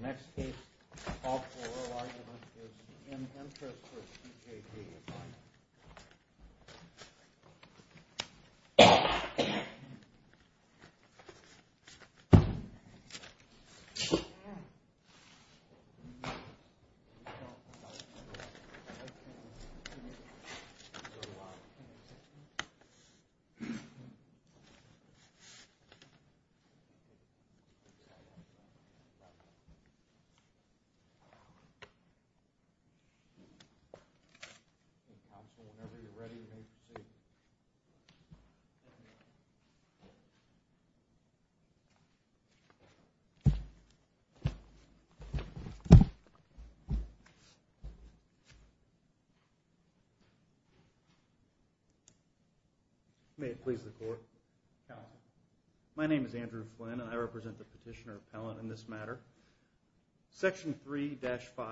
The next case, all four arguments, is in interest for T.J.D. The next case, all four arguments, is in interest for T.J.D. Section 3-5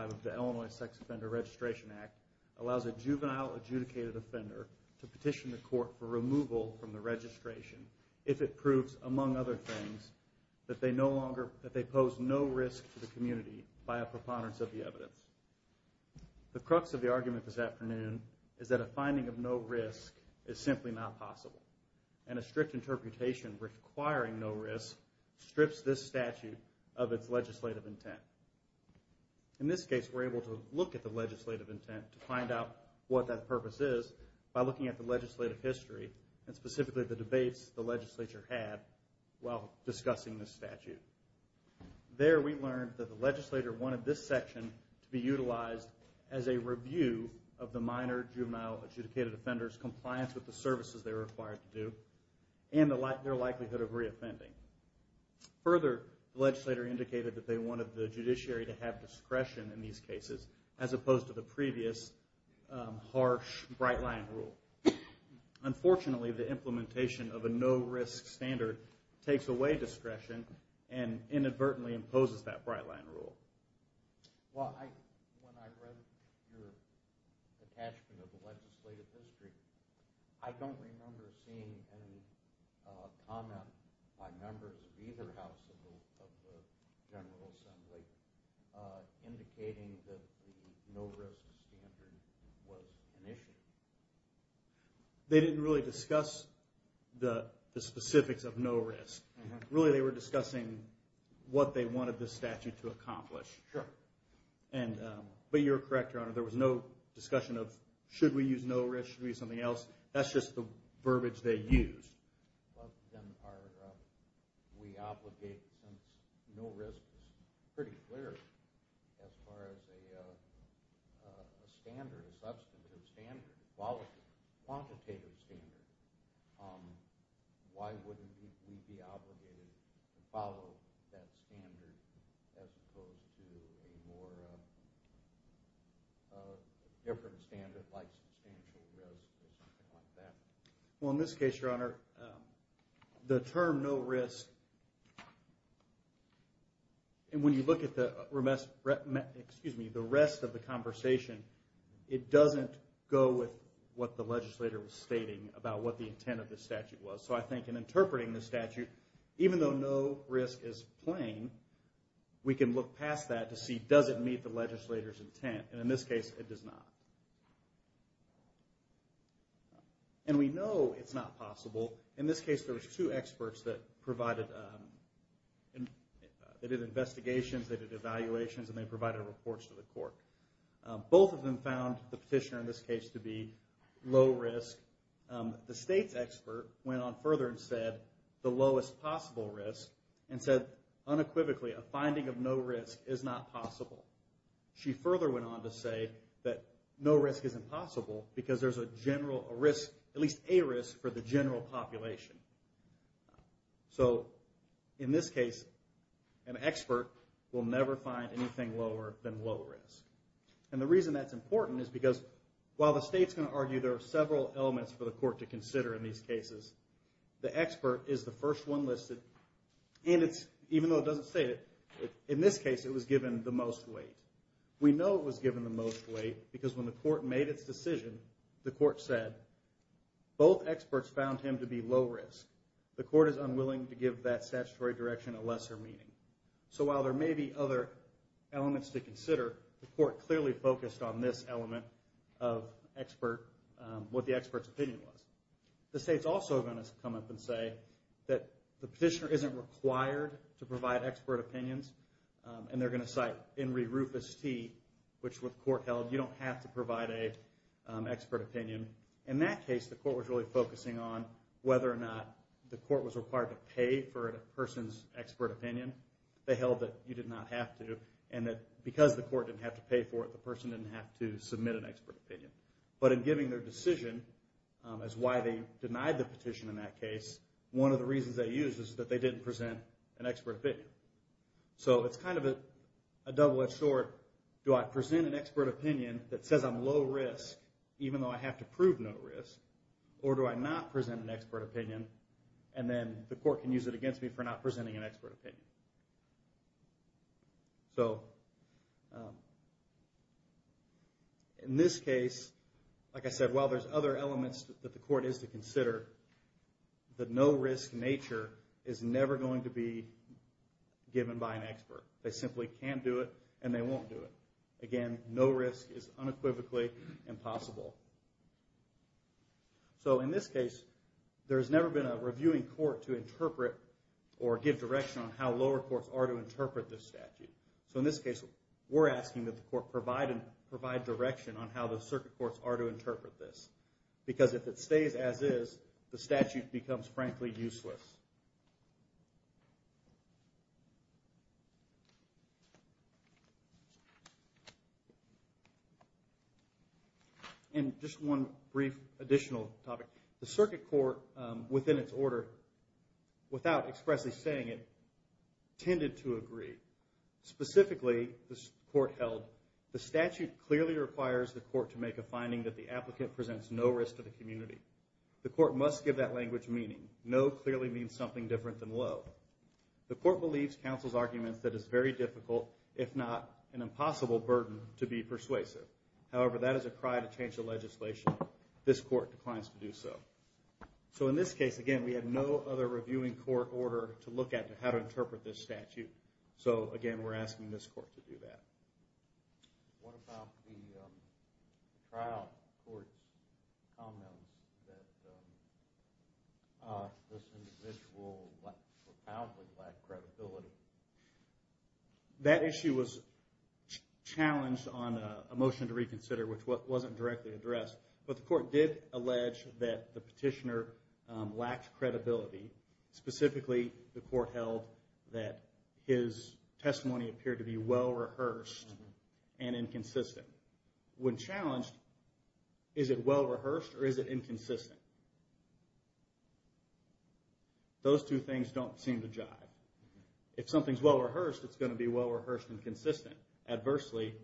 of the Illinois Sex Offender Registration Act allows a juvenile adjudicated offender to petition the court for removal from the registration if it proves, among other things, that they pose no risk to the community by a preponderance of the evidence. The crux of the argument this afternoon is that a finding of no risk is simply not possible, and a strict interpretation requiring no risk strips this statute of its legislative intent. In this case, we're able to look at the legislative intent to find out what that purpose is by looking at the legislative history, and specifically the debates the legislature had while discussing this statute. There, we learned that the legislature wanted this section to be utilized as a review of the minor juvenile adjudicated offender's compliance with the services they were required to do, and their likelihood of reoffending. Further, the legislature indicated that they wanted the judiciary to have discretion in these cases, as opposed to the previous harsh bright-line rule. Unfortunately, the implementation of a no-risk standard takes away discretion and inadvertently imposes that bright-line rule. Well, when I read your attachment of the legislative history, I don't remember seeing any comment by members of either house of the General Assembly indicating that the no-risk standard was an issue. They didn't really discuss the specifics of no risk. Really, they were discussing what they wanted this statute to accomplish. But you're correct, Your Honor, there was no discussion of should we use no risk, should we use something else. That's just the verbiage they used. We obligate, since no risk is pretty clear as far as a standard, a substantive standard, a quantitative standard, why wouldn't we be obligated to follow that standard as opposed to a more different standard like substantial risk or something like that? Well, in this case, Your Honor, the term no risk, and when you look at the rest of the conversation, it doesn't go with what the legislator was stating about what the intent of the statute was. So I think in interpreting the statute, even though no risk is plain, we can look past that to see does it meet the legislator's intent, and in this case, it does not. And we know it's not possible. In this case, there were two experts that did investigations, they did evaluations, and they provided reports to the court. Both of them found the petitioner in this case to be low risk. The state's expert went on further and said the lowest possible risk and said unequivocally a finding of no risk is not possible. She further went on to say that no risk is impossible because there's a general risk, at least a risk for the general population. So in this case, an expert will never find anything lower than low risk. And the reason that's important is because while the state's going to argue there are several elements for the court to consider in these cases, the expert is the first one listed. In this case, it was given the most weight. We know it was given the most weight because when the court made its decision, the court said both experts found him to be low risk. The court is unwilling to give that statutory direction a lesser meaning. So while there may be other elements to consider, the court clearly focused on this element of what the expert's opinion was. The state's also going to come up and say that the petitioner isn't required to provide expert opinions, and they're going to cite Henry Rufus T., which with court held you don't have to provide an expert opinion. In that case, the court was really focusing on whether or not the court was required to pay for a person's expert opinion. They held that you did not have to, and that because the court didn't have to pay for it, the person didn't have to submit an expert opinion. But in giving their decision as why they denied the petition in that case, one of the reasons they used is that they didn't present an expert opinion. So it's kind of a double-edged sword. Do I present an expert opinion that says I'm low risk even though I have to prove no risk, or do I not present an expert opinion, and then the court can use it against me for not presenting an expert opinion? In this case, like I said, while there's other elements that the court is to consider, the no risk nature is never going to be given by an expert. They simply can do it, and they won't do it. Again, no risk is unequivocally impossible. So in this case, there's never been a reviewing court to interpret or give direction on how lower courts are to interpret this statute. So in this case, we're asking that the court provide direction on how the circuit courts are to interpret this. Because if it stays as is, the statute becomes, frankly, useless. And just one brief additional topic. The circuit court, within its order, without expressly saying it, tended to agree. Specifically, the court held, the statute clearly requires the court to make a finding that the applicant presents no risk to the community. The court must give that language meaning. No clearly means something different than low. The court believes counsel's arguments that it is very difficult, if not an impossible burden, to be persuasive. However, that is a cry to change the legislation. This court declines to do so. So in this case, again, we have no other reviewing court order to look at how to interpret this statute. So again, we're asking this court to do that. That issue was challenged on a motion to reconsider, which wasn't directly addressed. But the court did allege that the petitioner lacked credibility. Specifically, the court held that his testimony appeared to be well-rehearsed and inconsistent. When challenged, is it well-rehearsed or is it inconsistent? Those two things don't seem to jive. If something's well-rehearsed, it's going to be well-rehearsed and consistent. Adversely,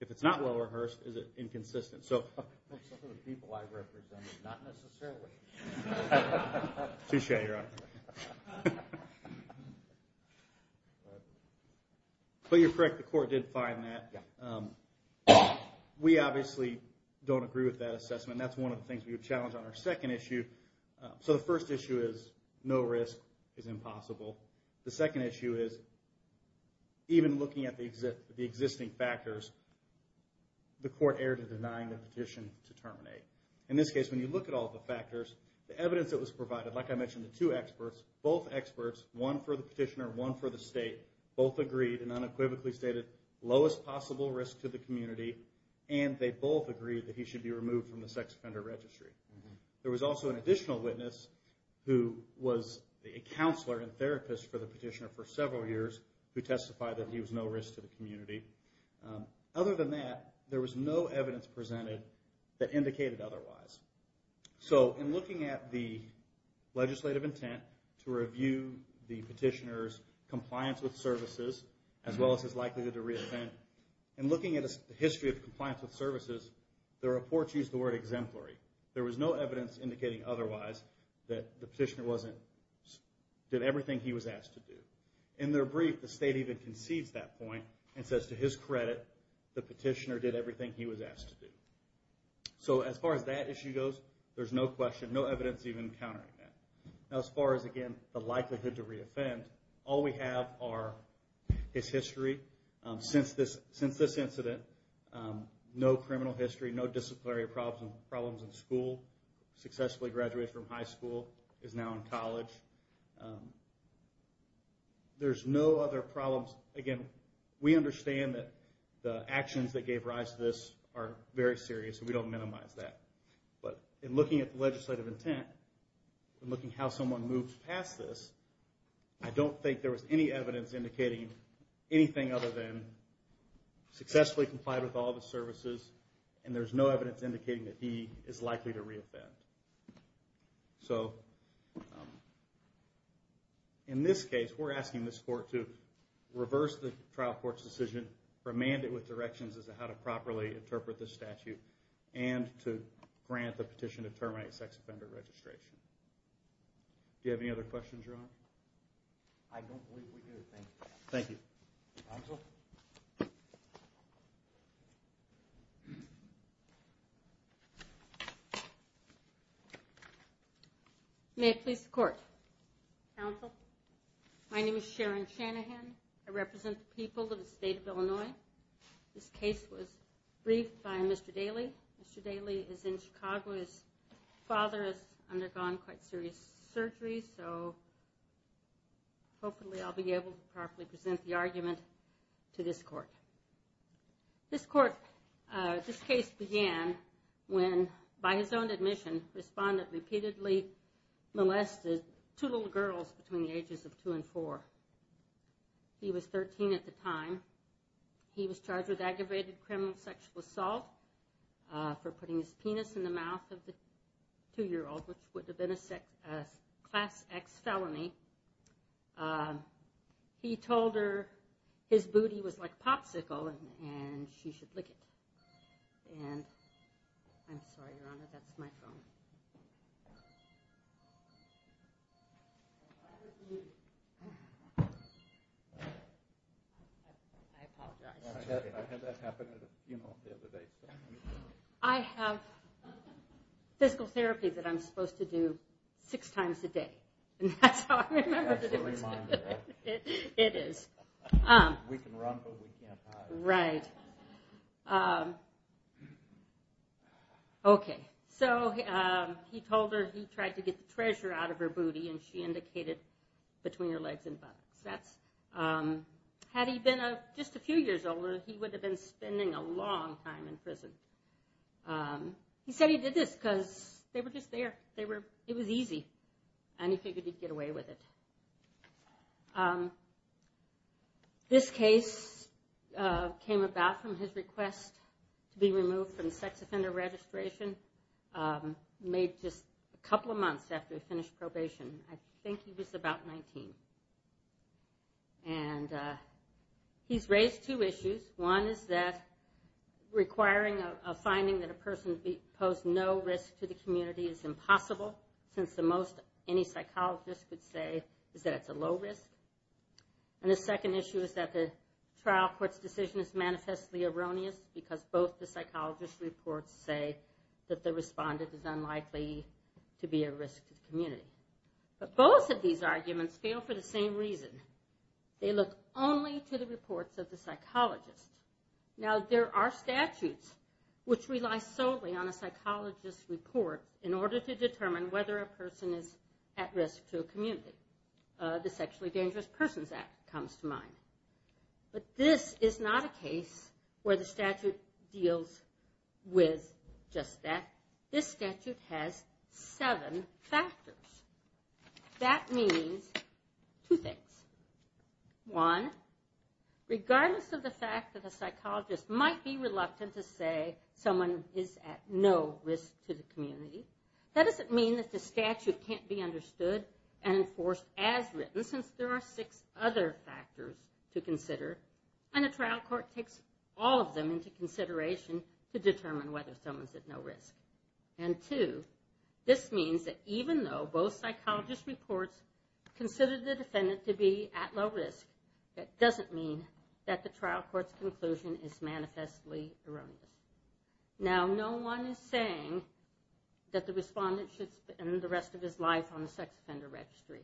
if it's not well-rehearsed, is it inconsistent? Some of the people I represented, not necessarily. But you're correct, the court did find that. We obviously don't agree with that assessment. That's one of the things we would challenge on our second issue. So the first issue is, no risk is impossible. The second issue is, even looking at the existing factors, the court erred in denying the petition to terminate. In this case, when you look at all the factors, the evidence that was provided, like I mentioned, the two experts, both experts, one for the petitioner, one for the state, both agreed and unequivocally stated, lowest possible risk to the community, and they both agreed that he should be removed from the sex offender registry. There was also an additional witness who was a counselor and therapist for the petitioner for several years, who testified that he was no risk to the community. Other than that, there was no evidence presented that indicated otherwise. So in looking at the legislative intent to review the petitioner's compliance with services, as well as his likelihood to re-offend, in looking at the history of compliance with services, the report used the word exemplary. There was no evidence indicating otherwise that the petitioner did everything he was asked to do. In their brief, the state even concedes that point and says, to his credit, the petitioner did everything he was asked to do. So as far as that issue goes, there's no question, no evidence even countering that. Now as far as, again, the likelihood to re-offend, all we have are his history, since this incident, no criminal history, no disciplinary problems in school, successfully graduated from high school, is now in college. There's no other problems. Again, we understand that the actions that gave rise to this are very serious, and we don't minimize that. But in looking at the legislative intent, and looking at how someone moved past this, I don't think there was any evidence indicating anything other than successfully complied with all the services, and there's no evidence indicating that he is likely to re-offend. So, in this case, we're asking this court to reverse the trial court's decision, remand it with directions as to how to properly interpret this statute, and to grant the petition to terminate sex offender registration. Do you have any other questions, Ron? I don't believe we do. Thank you. May it please the court. My name is Sharon Shanahan. I represent the people of the state of Illinois. This case was briefed by Mr. Daley. Mr. Daley is in Chicago. His father has undergone quite serious surgery, so hopefully I'll be able to properly present the argument to this court. This case began when, by his own admission, a respondent repeatedly molested two little girls between the ages of two and four. He was 13 at the time. He was charged with aggravated criminal sexual assault for putting his penis in the mouth of the two-year-old, which would have been a Class X felony. He told her his booty was like Popsicle and she should lick it. I'm sorry, Your Honor, that's my phone. I apologize. I have physical therapy that I'm supposed to do six times a day. That's how I remember to do it. We can run, but we can't hide. He told her he tried to get the treasure out of her booty and she indicated between her legs and buttocks. Had he been just a few years older, he would have been spending a long time in prison. He said he did this because they were just there. It was easy. And he figured he'd get away with it. This case came about from his request to be removed from sex offender registration. Made just a couple of months after he finished probation. I think he was about 19. He's raised two issues. One is that requiring a finding that a person posed no risk to the community is impossible, since the most any psychologist would say is that it's a low risk. And the second issue is that the trial court's decision is manifestly erroneous because both the psychologist reports say that the same reason. They look only to the reports of the psychologist. Now there are statutes which rely solely on a psychologist's report in order to determine whether a person is at risk to a community. The Sexually Dangerous Persons Act comes to mind. But this is not a case where the statute deals with just that. This statute has seven factors. That means two things. One, regardless of the fact that a psychologist might be reluctant to say someone is at no risk to the community, that doesn't mean that the statute can't be understood and enforced as written, since there are six other factors to consider. And a trial court takes all of them into consideration to determine whether someone's at no risk. And two, this means that even though both psychologist reports consider the defendant to be at low risk, that doesn't mean that the trial court's conclusion is manifestly erroneous. Now no one is saying that the respondent should spend the rest of his life on the sex offender registry,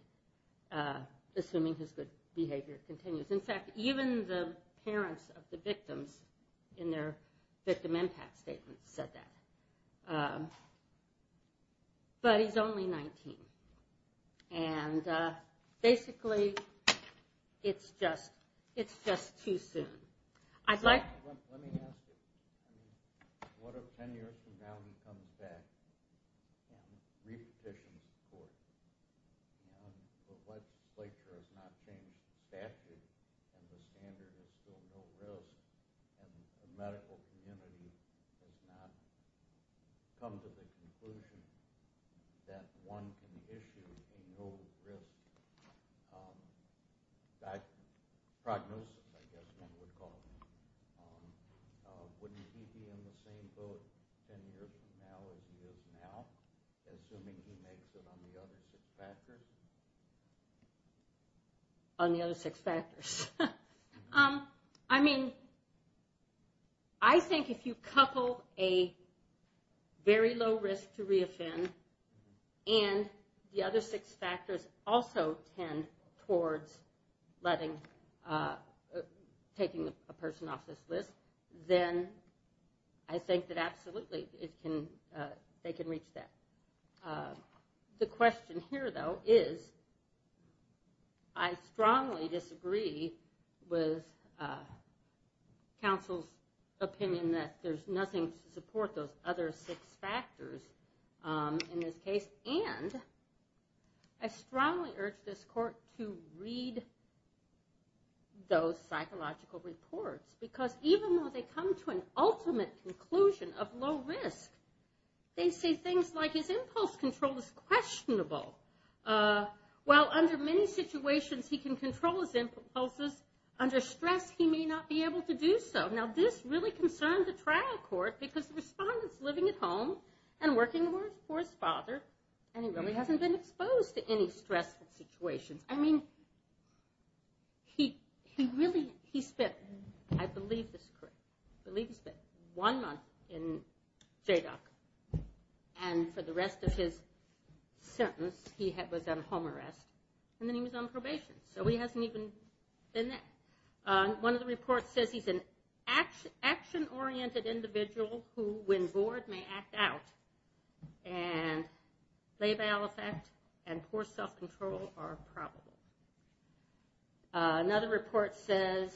assuming his good behavior continues. In fact, even the parents of the victims in their victim impact statement said that. But he's only 19. And basically, it's just too soon. Let me ask you, what if 10 years from now he comes back and repetitions the court? The legislature has not changed the statute and the standard is still no risk and the medical community has not come to the conclusion that one can issue a no risk diagnosis. Wouldn't he be on the same boat 10 years from now as he is now? Assuming he makes it on the other six factors? On the other six factors. I mean, I think if you couple a very low risk to re-offend and the other six factors also tend towards taking a person off this list, then I think that absolutely they can reach that. The question here, though, is I strongly disagree with counsel's opinion that there's nothing to support those other six factors in this case and I strongly urge this court to read those psychological reports. Because even though they come to an ultimate conclusion of low risk, they say things like his impulse control is questionable. While under many situations he can control his impulses, under stress he may not be able to do so. Now this really concerned the trial court because the respondent's living at home and working for his father and he really hasn't been exposed to any stressful situations. I mean, he spent, I believe this is correct, I believe he spent one month in JDOC and for the rest of his sentence he was on home arrest and then he was on probation. So he hasn't even been there. One of the reports says he's an action-oriented individual who, when bored, may act out and labial effect and poor self-control are probable. Another report says,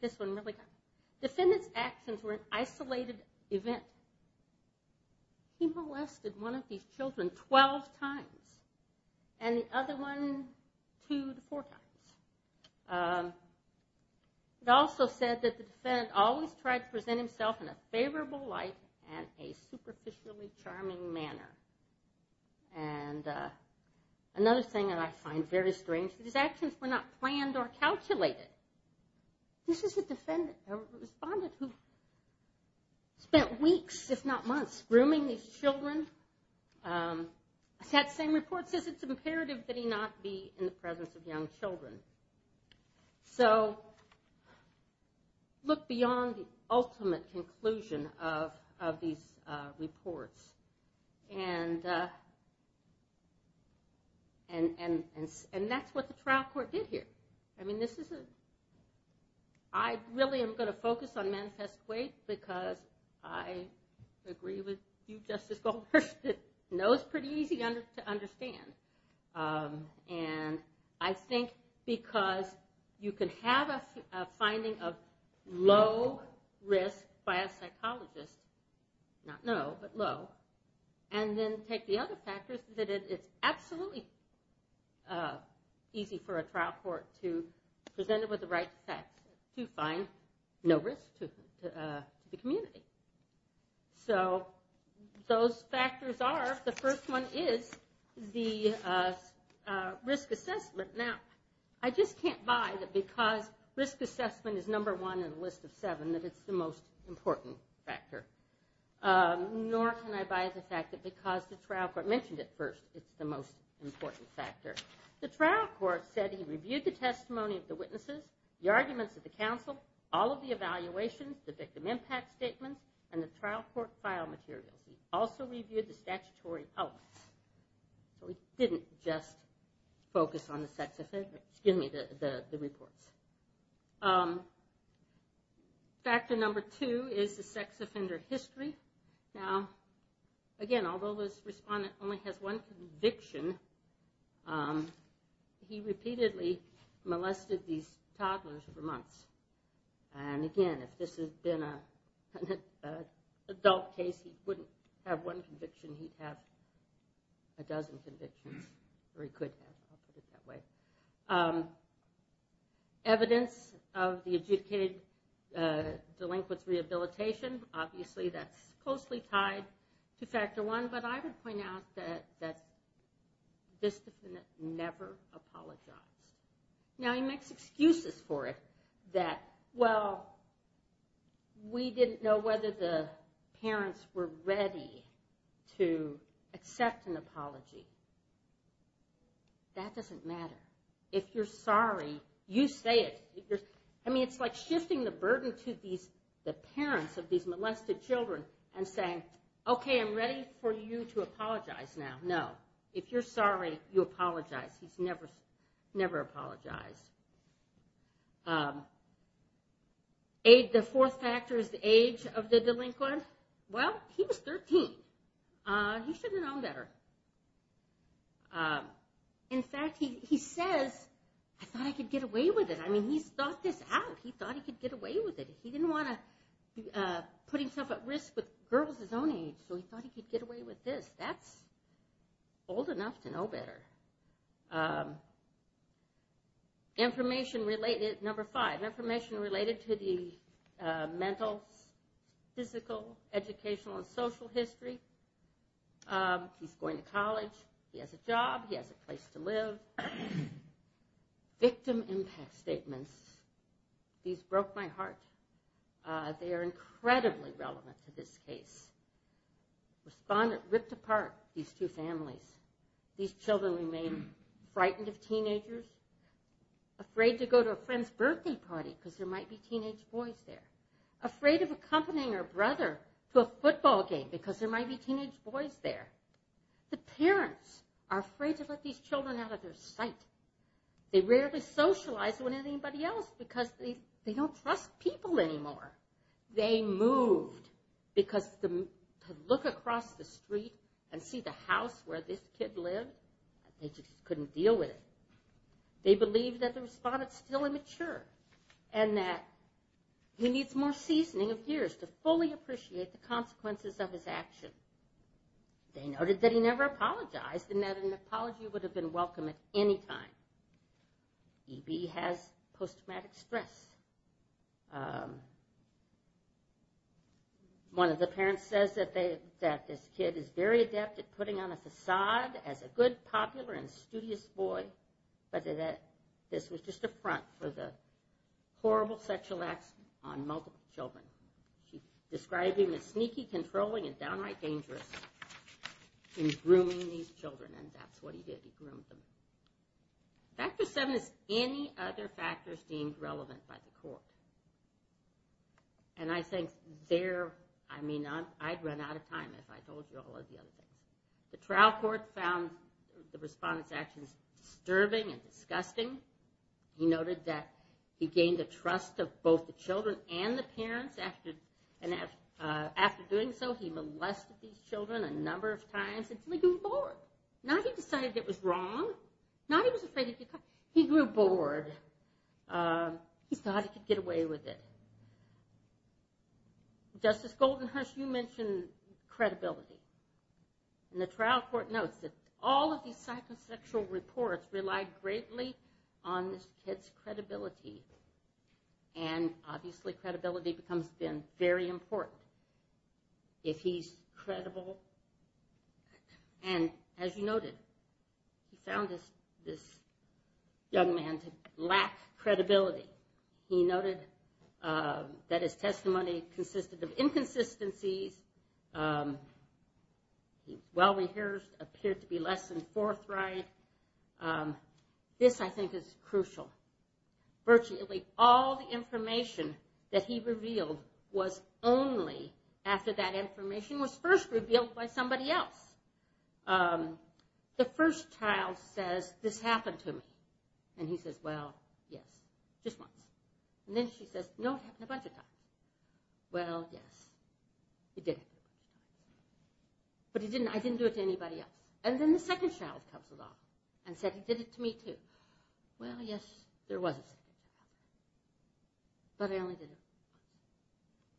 this one really got me, defendant's actions were an isolated event. He molested one of these children 12 times and the other one two to four times. It also said that the defendant always tried to present himself in a favorable light and a superficially charming manner. Another thing that I find very strange is that his actions were not planned or calculated. This is a respondent who spent weeks, if not months, grooming these children. That same report says it's imperative that he not be in the presence of young children. So look beyond the ultimate conclusion of these reports. And that's what the trial court did here. I really am going to focus on Manifest Weight because I agree with you, Justice Goldberg. No, it's pretty easy to understand. And I think because you can have a finding of low risk by a psychologist, not no, but low, and then take the other factors that it's absolutely easy for a trial court to present it with the right facts to find no risk to the community. So those factors are, the first one is the risk assessment. Now, I just can't buy that because risk assessment is number one in the list of seven, that it's the most important factor. Nor can I buy the fact that because the trial court mentioned it first, it's the most important factor. The trial court said he reviewed the testimony of the witnesses, the arguments of the counsel, all of the evaluations, the victim impact statements, and the trial court file materials. He also reviewed the statutory elements. So he didn't just focus on the sex offender, excuse me, the reports. Factor number two is the sex offender history. Now, again, although this respondent only has one conviction, he repeatedly molested these toddlers for months. And again, if this had been an adult case, he wouldn't have one conviction, he'd have a dozen convictions. Or he could have, I'll put it that way. Evidence of the adjudicated delinquent's rehabilitation, obviously that's closely tied to factor one, but I would point out that this defendant never apologized. We didn't know whether the parents were ready to accept an apology. That doesn't matter. If you're sorry, you say it. I mean, it's like shifting the burden to the parents of these molested children and saying, okay, I'm ready for you to apologize now. No, if you're sorry, you apologize. He's never apologized. The fourth factor is the age of the delinquent. Well, he was 13. He should have known better. In fact, he says, I thought I could get away with it. I mean, he's thought this out. He thought he could get away with it. He didn't want to put himself at risk with girls his own age, so he thought he could get away with this. That's old enough to know better. Number five, information related to the mental, physical, educational, and social history. He's going to college. He has a job. He has a place to live. Victim impact statements, these broke my heart. They are incredibly relevant to this case. Ripped apart these two families. These children remain frightened of teenagers, afraid to go to a friend's birthday party because there might be teenage boys there, afraid of accompanying her brother to a football game because there might be teenage boys there. The parents are afraid to let these children out of their sight. They rarely socialize with anybody else because they don't trust people anymore. They moved because to look across the street and see the house where this kid lived, they just couldn't deal with it. They believe that the respondent's still immature and that he needs more seasoning of years to fully appreciate the consequences of his action. They noted that he never apologized and that an apology would have been welcome at any time. EB has post-traumatic stress. One of the parents says that this kid is very adept at putting on a facade as a good, popular, and studious boy, but that this was just a front for the horrible sexual acts on multiple children. She described him as sneaky, controlling, and downright dangerous in grooming these children, and that's what he did. He groomed them. Factor seven is any other factors deemed relevant by the court. I'd run out of time if I told you all of the other things. The trial court found the respondent's actions disturbing and disgusting. He noted that he gained the trust of both the children and the parents. After doing so, he molested these children a number of times until he grew bored. Now he decided it was wrong. Now he was afraid of getting caught. He grew bored. He thought he could get away with it. Justice Goldenhush, you mentioned credibility. The trial court notes that all of these psychosexual reports relied greatly on this kid's credibility. Obviously, credibility becomes, then, very important. If he's credible, and as you noted, he found this young man to lack credibility. He noted that his testimony consisted of inconsistencies. He well-rehearsed, appeared to be less than forthright. This, I think, is crucial. Virtually all the information that he revealed was only after that information was first revealed by somebody else. The first child says, this happened to me. He says, well, yes, just once. Then she says, no, it happened a bunch of times. Well, yes, it did. But I didn't do it to anybody else. Then the second child comes along and said, he did it to me, too. Well, yes, there was a second child. But I only did it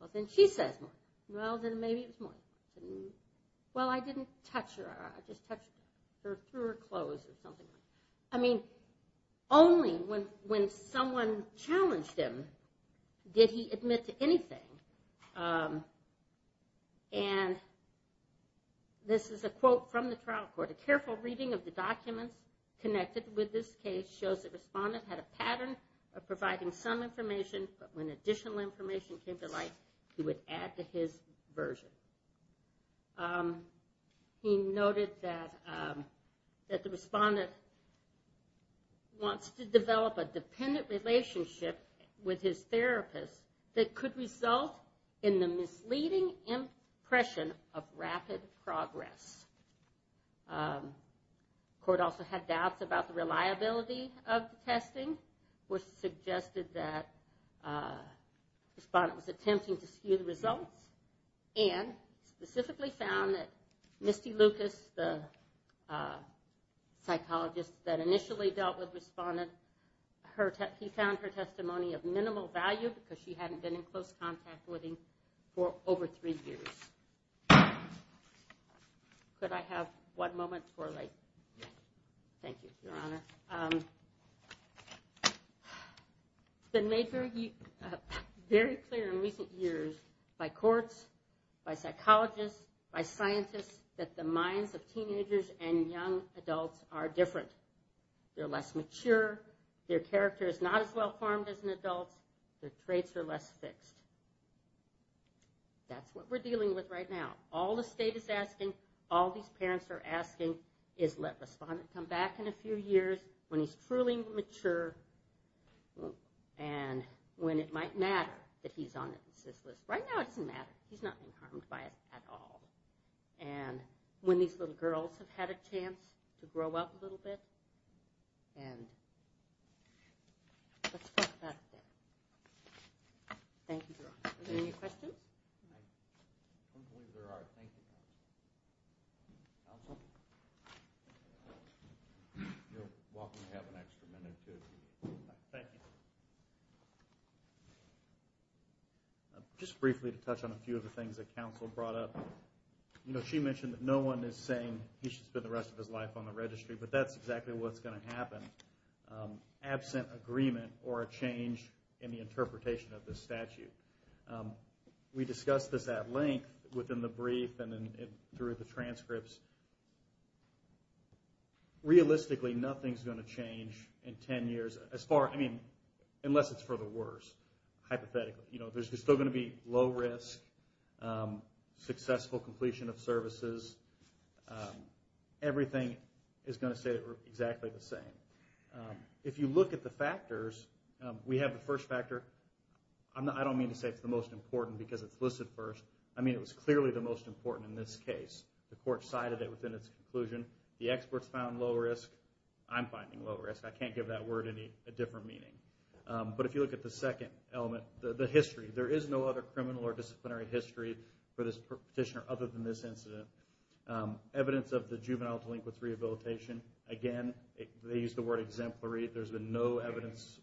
once. Well, then she says more. Well, then maybe it was more. Well, I didn't touch her. I just touched her through her clothes or something. And this is a quote from the trial court. A careful reading of the documents connected with this case shows the respondent had a pattern of providing some information, but when additional information came to light, he would add to his version. He noted that the respondent wants to develop a dependent relationship with his therapist that could result in the misleading impression of rapid progress. The court also had doubts about the reliability of the testing. It was suggested that the respondent was attempting to skew the results and specifically found that Misty Lucas, the psychologist that initially dealt with the respondent, he found her testimony of minimal value because she hadn't been in close contact with him for over three years. Could I have one moment to correlate? Thank you, Your Honor. It's been made very clear in recent years by courts, by psychologists, by scientists, that the minds of teenagers and young adults are different. They're less mature. Their character is not as well formed as an adult's. Their traits are less fixed. That's what we're dealing with right now. All the state is asking, all these parents are asking is let the respondent come back in a few years when he's truly mature and when it might matter that he's on the assist list. Right now it doesn't matter. He's not being harmed by it at all. When these little girls have had a chance to grow up a little bit, let's talk about that. Thank you, Your Honor. Are there any questions? I don't believe there are. Thank you, counsel. You're welcome to have an extra minute, too. Thank you. Just briefly to touch on a few of the things that counsel brought up. You know, she mentioned that no one is saying he should spend the rest of his life on the registry, but that's exactly what's going to happen. Absent agreement or a change in the interpretation of this statute. We discussed this at length within the brief and through the transcripts. Realistically, nothing's going to change in 10 years. Unless it's for the worse, hypothetically. There's still going to be low risk, successful completion of services. Everything is going to stay exactly the same. If you look at the factors, we have the first factor. I don't mean to say it's the most important because it's listed first. I mean it was clearly the most important in this case. The court cited it within its conclusion. The experts found low risk. I'm finding low risk. I can't give that word a different meaning. But if you look at the second element, the history, there is no other criminal or disciplinary history for this petitioner other than this incident. Evidence of the juvenile delinquent's rehabilitation. Again, they used the word exemplary. There's been no evidence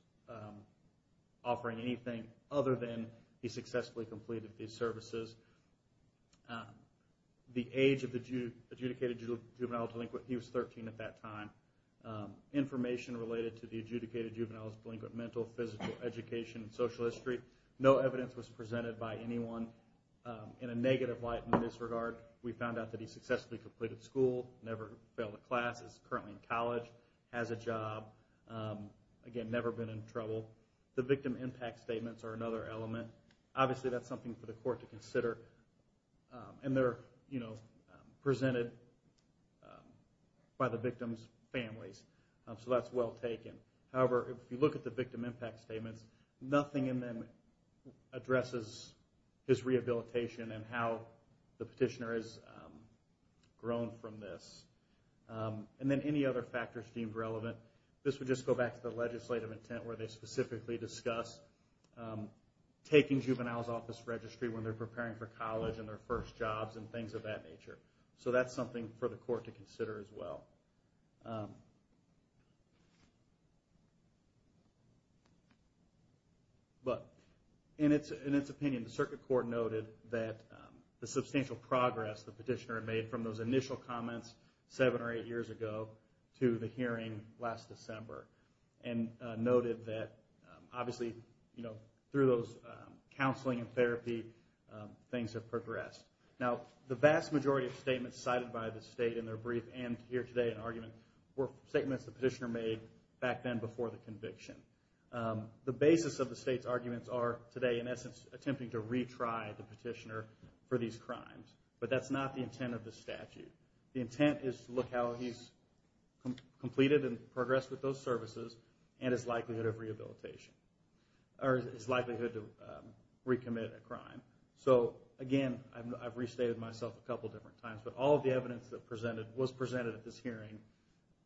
offering anything other than he successfully completed these services. The age of the adjudicated juvenile delinquent, he was 13 at that time. Information related to the adjudicated juvenile's delinquent mental, physical, education, and social history. No evidence was presented by anyone. In a negative light in this regard, we found out that he successfully completed school, never failed a class, is currently in college, has a job, again, never been in trouble. The victim impact statements are another element. Obviously, that's something for the court to consider. And they're presented by the victim's families. So that's well taken. However, if you look at the victim impact statements, nothing in them addresses his rehabilitation and how the petitioner has grown from this. And then any other factors deemed relevant, this would just go back to the legislative intent where they specifically discuss taking juveniles off this registry when they're preparing for college and their first jobs and things of that nature. So that's something for the court to consider as well. But in its opinion, the circuit court noted that the substantial progress the petitioner had made from those initial comments seven or eight years ago to the hearing last December and noted that, obviously, through those counseling and therapy, things have progressed. Now, the vast majority of statements cited by the state in their brief and here today in argument were statements the petitioner made back then before the conviction. The basis of the state's arguments are today, in essence, attempting to retry the petitioner for these crimes. But that's not the intent of the statute. The intent is to look how he's completed and progressed with those services and his likelihood of rehabilitation or his likelihood to recommit a crime. So, again, I've restated myself a couple of different times, but all of the evidence that was presented at this hearing,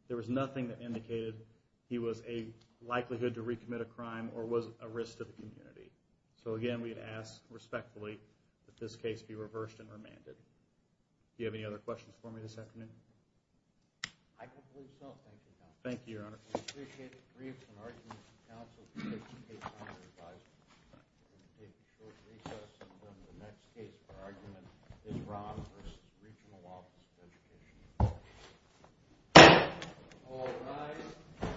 there was nothing that indicated he was a likelihood to recommit a crime or was a risk to the community. So, again, we'd ask respectfully that this case be reversed and remanded. Do you have any other questions for me this afternoon? I can't believe so. Thank you, Your Honor. Thank you, Your Honor. We appreciate the briefs and arguments of counsel to take the case under advisement. We're going to take a short recess and then the next case for argument is Ron v. Regional Office of Education. All rise.